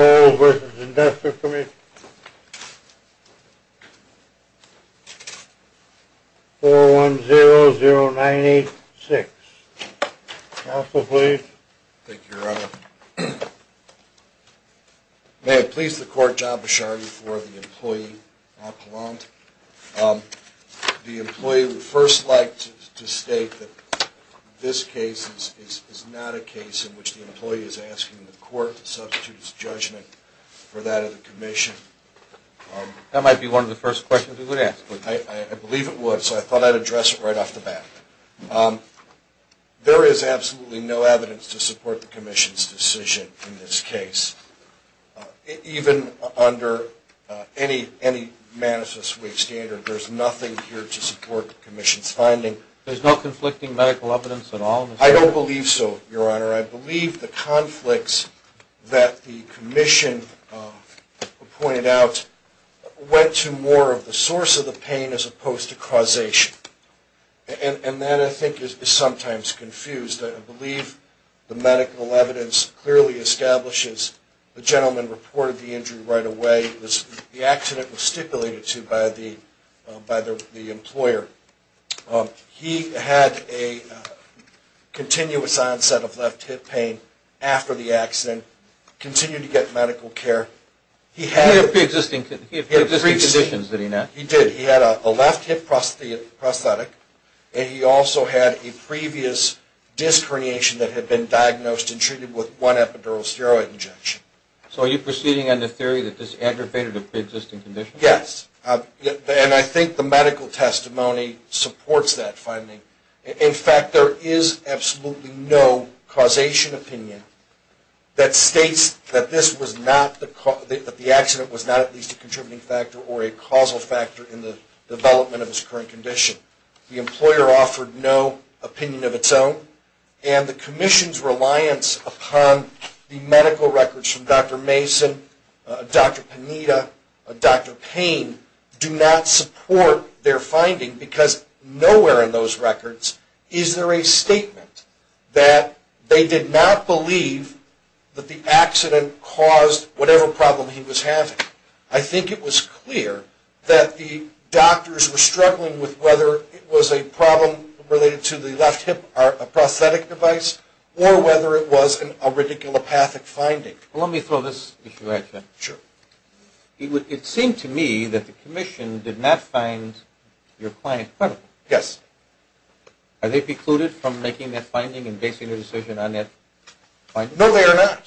4100986. Counsel, please. Thank you, Your Honor. May it please the Court, John Bisharri for the employee, Al Palant. The employee would first like to state that this case is not a case in which the employee is asking the Court to support the employee's request for compensation. That might be one of the first questions we would ask. I believe it would, so I thought I'd address it right off the bat. There is absolutely no evidence to support the Commission's decision in this case. Even under any Manassas Whig standard, there's nothing here to support the Commission's finding. There's no conflicting medical evidence at all? He had a continuous onset of left hip pain after the accident, continued to get medical care. He had pre-existing conditions, did he not? He did. He had a left hip prosthetic, and he also had a previous disc herniation that had been diagnosed and treated with one epidural steroid injection. So are you proceeding on the theory that this aggravated a pre-existing condition? Yes. And I think the medical testimony supports that finding. In fact, there is absolutely no causation opinion that states that the accident was not at least a contributing factor or a causal factor in the development of his current condition. The employer offered no opinion of its own, and the Commission's reliance upon the medical records from Dr. Mason, Dr. Panita, Dr. Payne, do not support their finding because nowhere in those records is there a statement that they did not believe that the accident caused whatever problem he was having. I think it was clear that the doctors were struggling with whether it was a problem related to the left hip prosthetic device or whether it was a radiculopathic finding. Let me throw this issue at you. Sure. It seemed to me that the Commission did not find your client credible. Yes. Are they precluded from making that finding and basing their decision on that finding? No, they are not.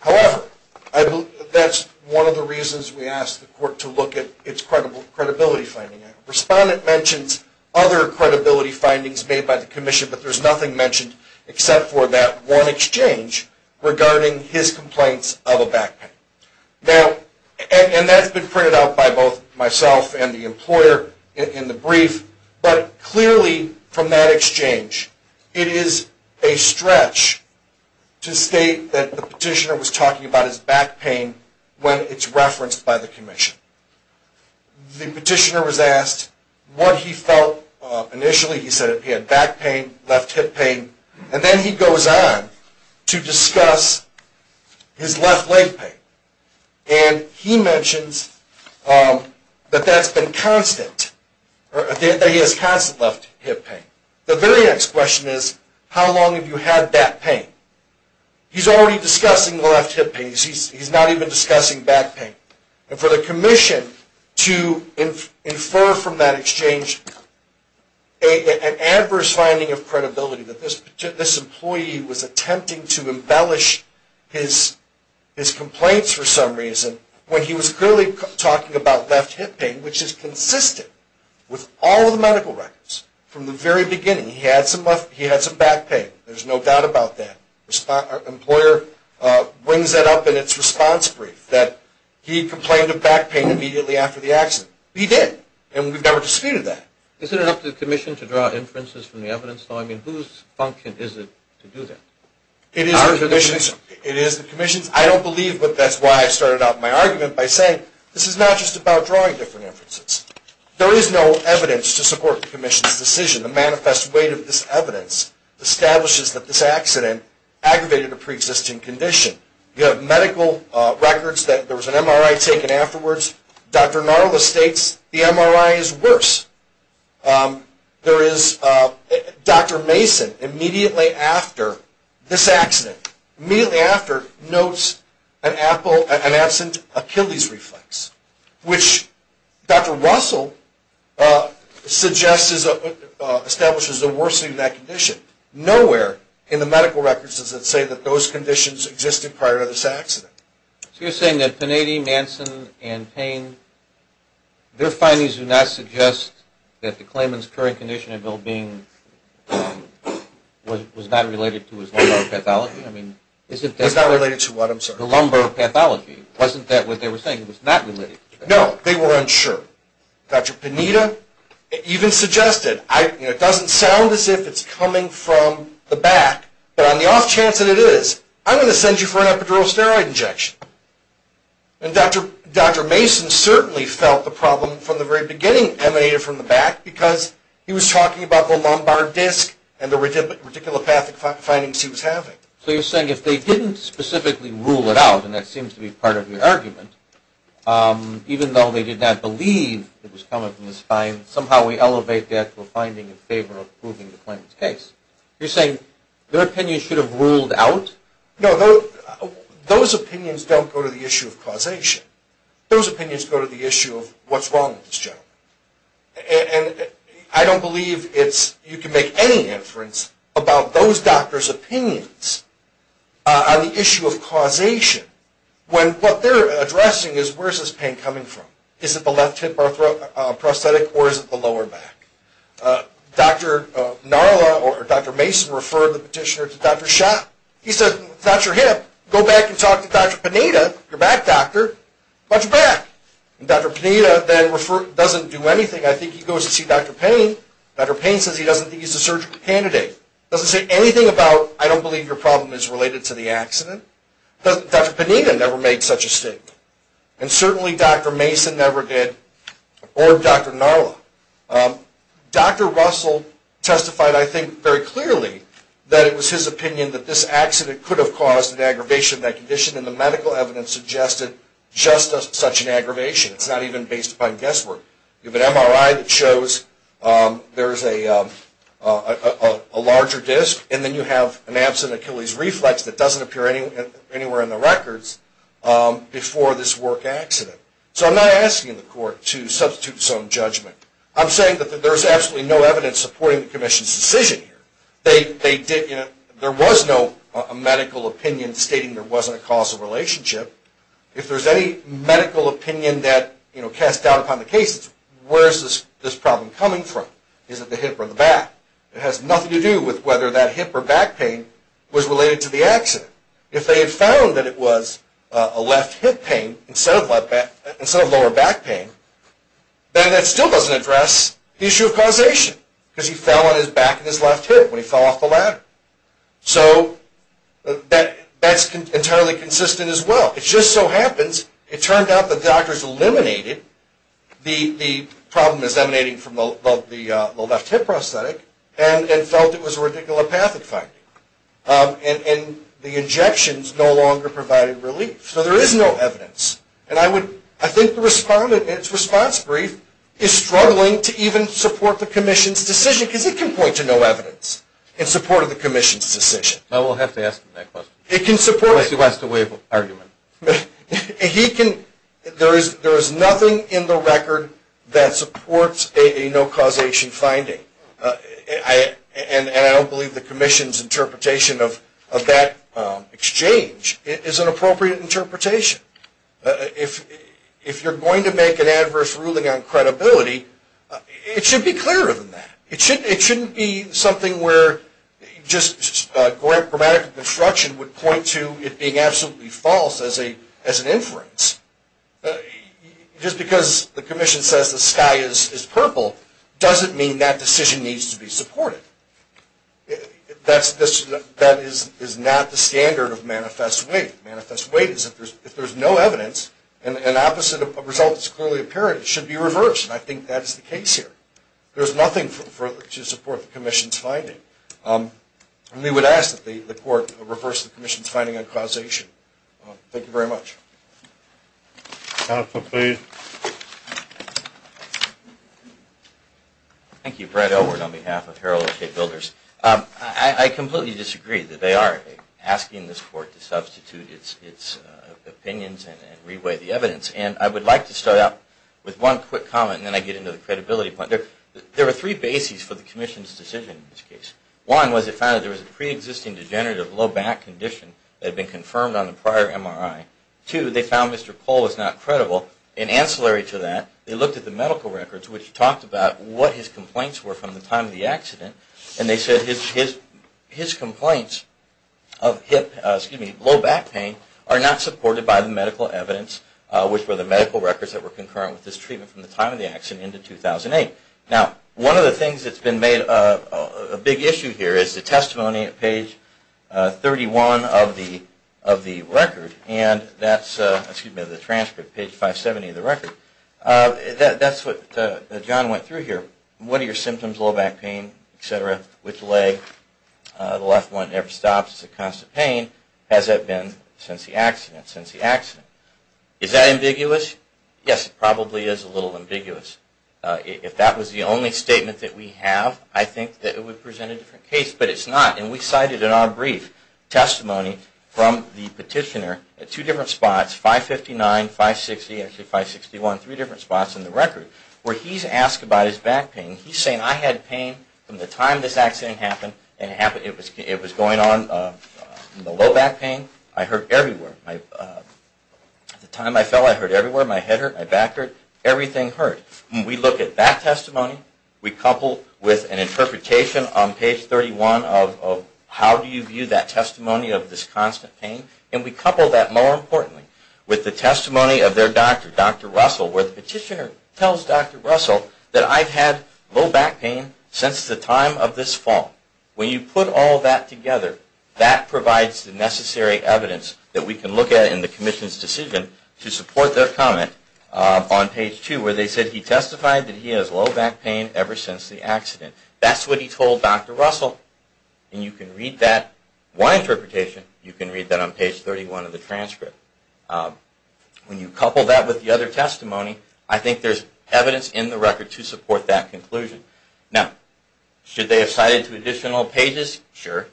However, that's one of the reasons we asked the Court to look at its credibility finding. Respondent mentions other credibility findings made by the Commission, but there's nothing mentioned except for that one exchange regarding his complaints of a back pain. And that's been printed out by both myself and the employer in the brief, but clearly from that exchange, it is a stretch to state that the petitioner was talking about his back pain when it's referenced by the Commission. The petitioner was asked what he felt initially. He said he had back pain, left hip pain, and then he goes on to discuss his left leg pain. And he mentions that he has constant left hip pain. The very next question is, how long have you had that pain? He's already discussing the left hip pain. He's not even discussing back pain. And for the Commission to infer from that exchange an adverse finding of credibility, that this employee was attempting to embellish his complaints for some reason, when he was clearly talking about left hip pain, which is consistent with all of the medical records. From the very beginning, he had some back pain. There's no doubt about that. The employer brings that up in its response brief, that he complained of back pain immediately after the accident. He did, and we've never disputed that. Is it up to the Commission to draw inferences from the evidence? I mean, whose function is it to do that? It is the Commission's. I don't believe, but that's why I started out my argument by saying, this is not just about drawing different inferences. There is no evidence to support the Commission's decision. The manifest weight of this evidence establishes that this accident aggravated a pre-existing condition. You have medical records that there was an MRI taken afterwards. Dr. Narla states the MRI is worse. There is, Dr. Mason, immediately after this accident, immediately after, notes an absent Achilles reflex, which Dr. Russell suggests establishes a worsening of that condition. Nowhere in the medical records does it say that those conditions existed prior to this accident. So you're saying that Panady, Manson, and Payne, their findings do not suggest that the claimant's current condition and well-being was not related to his lumbar pathology? Was not related to what, I'm sorry? The lumbar pathology. Wasn't that what they were saying? It was not related. No, they weren't sure. Dr. Panada even suggested, it doesn't sound as if it's coming from the back, but on the off chance that it is, I'm going to send you for an epidural steroid injection. And Dr. Mason certainly felt the problem from the very beginning emanated from the back because he was talking about the lumbar disc and the radiculopathic findings he was having. So you're saying if they didn't specifically rule it out, and that seems to be part of your argument, even though they did not believe it was coming from the spine, somehow we elevate that to a finding in favor of proving the claimant's case. You're saying their opinions should have ruled out? No, those opinions don't go to the issue of causation. Those opinions go to the issue of what's wrong with this gentleman. And I don't believe you can make any inference about those doctors' opinions on the issue of causation when what they're addressing is where is this pain coming from? Is it the left hip prosthetic or is it the lower back? Dr. Narla or Dr. Mason referred the petitioner to Dr. Schott. He said, it's not your hip. Go back and talk to Dr. Pineda. You're back, doctor. Watch your back. And Dr. Pineda then doesn't do anything. I think he goes to see Dr. Payne. Dr. Payne says he doesn't think he's a surgical candidate. He doesn't say anything about, I don't believe your problem is related to the accident. Dr. Pineda never made such a statement. And certainly Dr. Mason never did or Dr. Narla. Dr. Russell testified, I think, very clearly that it was his opinion that this accident could have caused an aggravation of that condition. And the medical evidence suggested just such an aggravation. It's not even based upon guesswork. You have an MRI that shows there's a larger disc. And then you have an absent Achilles reflex that doesn't appear anywhere in the records before this work accident. So I'm not asking the court to substitute its own judgment. I'm saying that there's absolutely no evidence supporting the commission's decision here. There was no medical opinion stating there wasn't a causal relationship. If there's any medical opinion that, you know, cast doubt upon the case, where is this problem coming from? Is it the hip or the back? It has nothing to do with whether that hip or back pain was related to the accident. If they had found that it was a left hip pain instead of lower back pain, then that still doesn't address the issue of causation. Because he fell on his back and his left hip when he fell off the ladder. So that's entirely consistent as well. It just so happens it turned out the doctors eliminated the problem that's emanating from the left hip prosthetic and felt it was a radiculopathic finding. And the injections no longer provided relief. So there is no evidence. And I think the respondent in its response brief is struggling to even support the commission's decision because it can point to no evidence in support of the commission's decision. Well, we'll have to ask him that question. Unless he wants to waive argument. There is nothing in the record that supports a no causation finding. And I don't believe the commission's interpretation of that exchange is an appropriate interpretation. If you're going to make an adverse ruling on credibility, it should be clearer than that. It shouldn't be something where just grammatical construction would point to it being absolutely false as an inference. Just because the commission says the sky is purple doesn't mean that decision needs to be supported. That is not the standard of manifest weight. Manifest weight is if there's no evidence and an opposite result is clearly apparent, it should be reversed. And I think that is the case here. There's nothing to support the commission's finding. And we would ask that the court reverse the commission's finding on causation. Thank you very much. Counsel, please. Thank you. Brent Elward on behalf of Herald of State Builders. I completely disagree that they are asking this court to substitute its opinions and reweigh the evidence. And I would like to start out with one quick comment and then I get into the credibility part. There are three bases for the commission's decision in this case. One was it found that there was a pre-existing degenerative low back condition that had been confirmed on the prior MRI. Two, they found Mr. Cole was not credible. In ancillary to that, they looked at the medical records which talked about what his complaints were from the time of the accident. And they said his complaints of low back pain are not supported by the medical evidence, which were the medical records that were concurrent with his treatment from the time of the accident into 2008. Now, one of the things that's been made a big issue here is the testimony at page 31 of the record. And that's the transcript, page 570 of the record. That's what John went through here. What are your symptoms? Low back pain, et cetera. Which leg? The left one never stops. It's a constant pain. Has that been since the accident? Since the accident. Is that ambiguous? Yes, it probably is a little ambiguous. If that was the only statement that we have, I think that it would present a different case. But it's not. And we cited in our brief testimony from the petitioner at two different spots, 559, 560, actually 561, three different spots in the record, where he's asked about his back pain. He's saying, I had pain from the time this accident happened. It was going on in the low back pain. I hurt everywhere. At the time I fell, I hurt everywhere. My head hurt, my back hurt. Everything hurt. And we look at that testimony. We couple with an interpretation on page 31 of how do you view that testimony of this constant pain. And we couple that, more importantly, with the testimony of their doctor, Dr. Russell, where the petitioner tells Dr. Russell that I've had low back pain since the time of this fall. When you put all that together, that provides the necessary evidence that we can look at in the commission's decision to support their comment on page two, where they said he testified that he has low back pain ever since the accident. That's what he told Dr. Russell. And you can read that. In my interpretation, you can read that on page 31 of the transcript. When you couple that with the other testimony, I think there's evidence in the record to support that conclusion. Now, should they have cited two additional pages? Sure.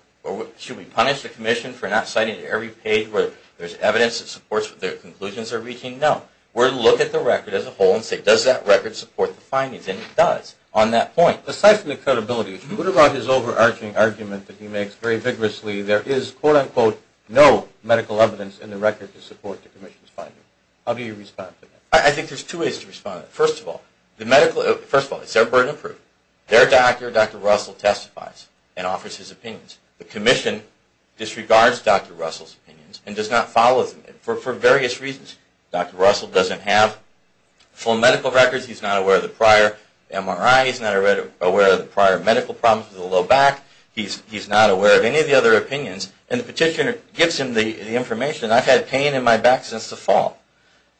Should we punish the commission for not citing every page where there's evidence that supports what their conclusions are reaching? No. We're going to look at the record as a whole and say, does that record support the findings? And it does on that point. Now, aside from the credibility issue, what about his overarching argument that he makes very vigorously there is, quote-unquote, no medical evidence in the record to support the commission's finding? How do you respond to that? I think there's two ways to respond to that. First of all, it's their burden of proof. Their doctor, Dr. Russell, testifies and offers his opinions. The commission disregards Dr. Russell's opinions and does not follow them for various reasons. Dr. Russell doesn't have full medical records. He's not aware of the prior MRI. He's not aware of the prior medical problems with the low back. He's not aware of any of the other opinions. And the petitioner gives him the information. I've had pain in my back since the fall.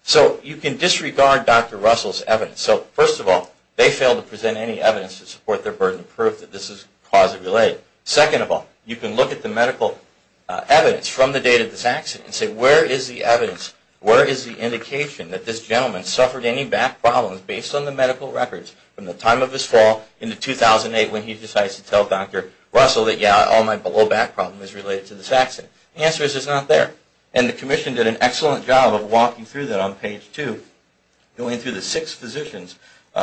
So you can disregard Dr. Russell's evidence. So, first of all, they fail to present any evidence to support their burden of proof that this is cause of delay. Second of all, you can look at the medical evidence from the date of this accident and say, where is the evidence? Where is the indication that this gentleman suffered any back problems based on the medical records from the time of his fall into 2008 when he decides to tell Dr. Russell that, yeah, all my low back problem is related to this accident? The answer is it's not there. And the commission did an excellent job of walking through that on page two, going through the six physicians,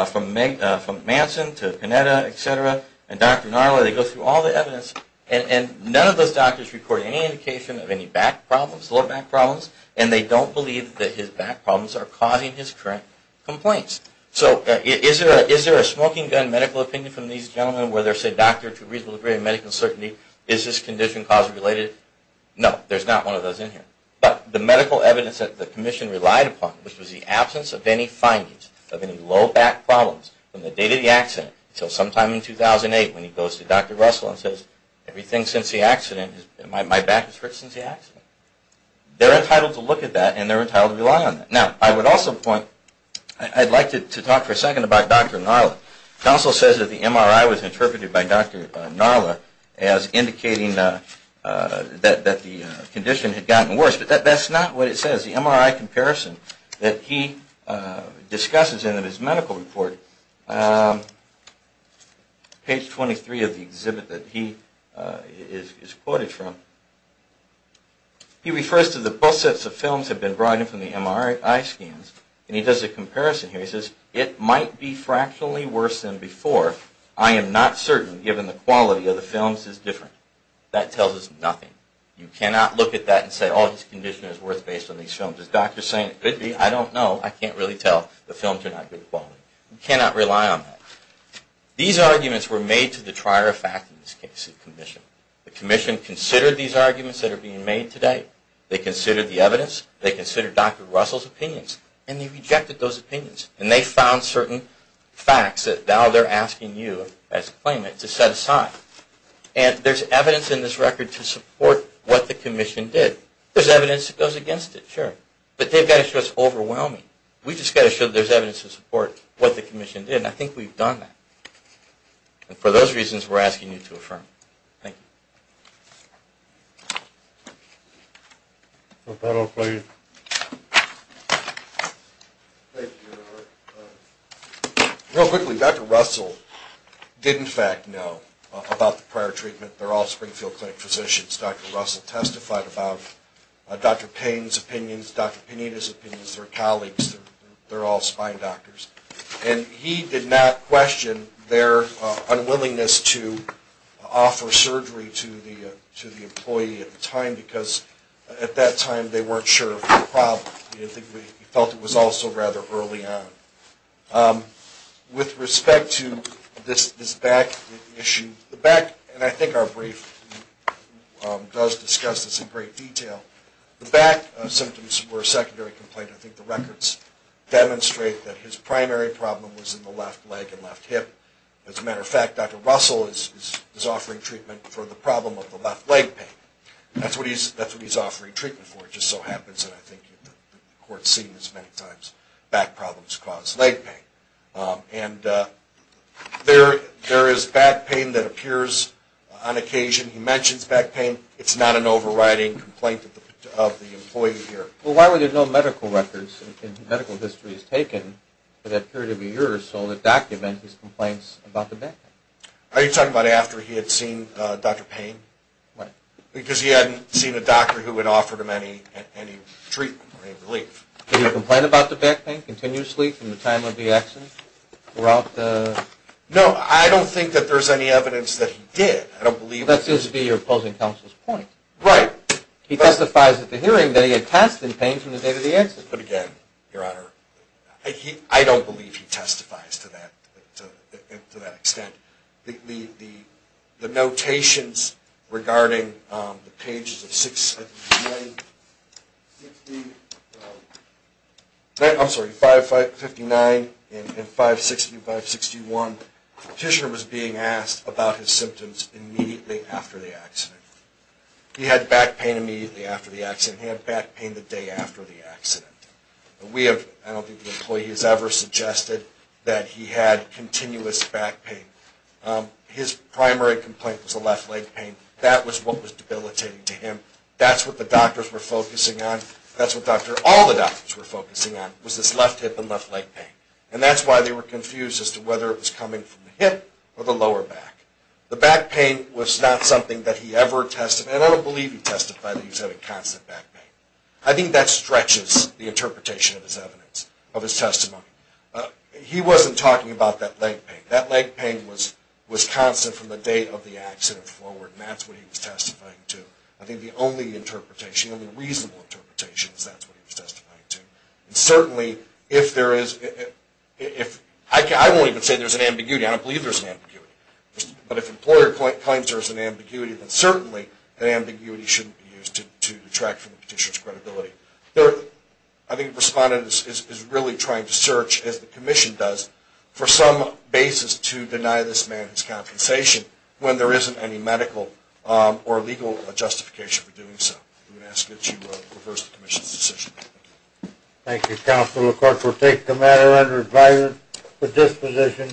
from Manson to Panetta, et cetera, and Dr. Narla. They go through all the evidence, and none of those doctors record any indication of any back problems, low back problems, and they don't believe that his back problems are causing his current complaints. So is there a smoking gun medical opinion from these gentlemen where they say, doctor, to a reasonable degree of medical certainty, is this condition cause-related? No, there's not one of those in here. But the medical evidence that the commission relied upon, which was the absence of any findings of any low back problems from the date of the accident until sometime in 2008 when he goes to Dr. Russell and says, everything since the accident, my back has hurt since the accident. They're entitled to look at that, and they're entitled to rely on that. Now, I would also point, I'd like to talk for a second about Dr. Narla. It also says that the MRI was interpreted by Dr. Narla as indicating that the condition had gotten worse, but that's not what it says. The MRI comparison that he discusses in his medical report, page 23 of the exhibit that he is quoted from, he refers to the bus sets of films that have been brought in from the MRI scans, and he does a comparison here. He says, it might be fractionally worse than before. I am not certain, given the quality of the films is different. That tells us nothing. You cannot look at that and say, oh, his condition is worse based on these films. Is Dr. saying it could be? I don't know. I can't really tell. The films are not good quality. You cannot rely on that. These arguments were made to the trier of fact in this case, the commission. The commission considered these arguments that are being made today. They considered the evidence. They considered Dr. Russell's opinions, and they rejected those opinions, and they found certain facts that now they're asking you, as a claimant, to set aside. And there's evidence in this record to support what the commission did. There's evidence that goes against it, sure, but they've got to show it's overwhelming. We've just got to show that there's evidence to support what the commission did, and I think we've done that. And for those reasons, we're asking you to affirm it. Thank you. Dr. Russell did, in fact, know about the prior treatment. They're all Springfield Clinic physicians. Dr. Russell testified about Dr. Payne's opinions, Dr. Pineda's opinions, their colleagues, they're all spine doctors. And he did not question their unwillingness to offer surgery to the employee at the time, because at that time they weren't sure of the problem. He felt it was also rather early on. With respect to this back issue, the back, and I think our brief does discuss this in great detail, the back symptoms were a secondary complaint. I think the records demonstrate that his primary problem was in the left leg and left hip. As a matter of fact, Dr. Russell is offering treatment for the problem of the left leg pain. That's what he's offering treatment for. It just so happens, and I think the court's seen this many times, back problems cause leg pain. And there is back pain that appears on occasion. He mentions back pain. It's not an overriding complaint of the employee here. Well, why were there no medical records and medical histories taken for that period of a year or so that document his complaints about the back pain? Are you talking about after he had seen Dr. Payne? Why? Because he hadn't seen a doctor who had offered him any treatment or any relief. Did he complain about the back pain continuously from the time of the accident throughout the? No, I don't think that there's any evidence that he did. That seems to be your opposing counsel's point. Right. He testifies at the hearing that he had passed in pain from the day of the accident. But again, Your Honor, I don't believe he testifies to that extent. The notations regarding the pages of 569 and 561, the petitioner was being asked about his symptoms immediately after the accident. He had back pain immediately after the accident. He had back pain the day after the accident. I don't think the employee has ever suggested that he had continuous back pain. His primary complaint was a left leg pain. That was what was debilitating to him. That's what the doctors were focusing on. That's what all the doctors were focusing on was this left hip and left leg pain. And that's why they were confused as to whether it was coming from the hip or the lower back. The back pain was not something that he ever testified. And I don't believe he testified that he was having constant back pain. I think that stretches the interpretation of his evidence, of his testimony. He wasn't talking about that leg pain. That leg pain was constant from the day of the accident forward, and that's what he was testifying to. I think the only interpretation, the only reasonable interpretation, is that's what he was testifying to. And certainly, if there is, I won't even say there's an ambiguity. I don't believe there's an ambiguity. But if an employer claims there is an ambiguity, then certainly an ambiguity shouldn't be used to detract from the petitioner's credibility. Third, I think the respondent is really trying to search, as the commission does, for some basis to deny this man his compensation when there isn't any medical or legal justification for doing so. I'm going to ask that you reverse the commission's decision. Thank you, Counsel. The court will take the matter under advisory with disposition.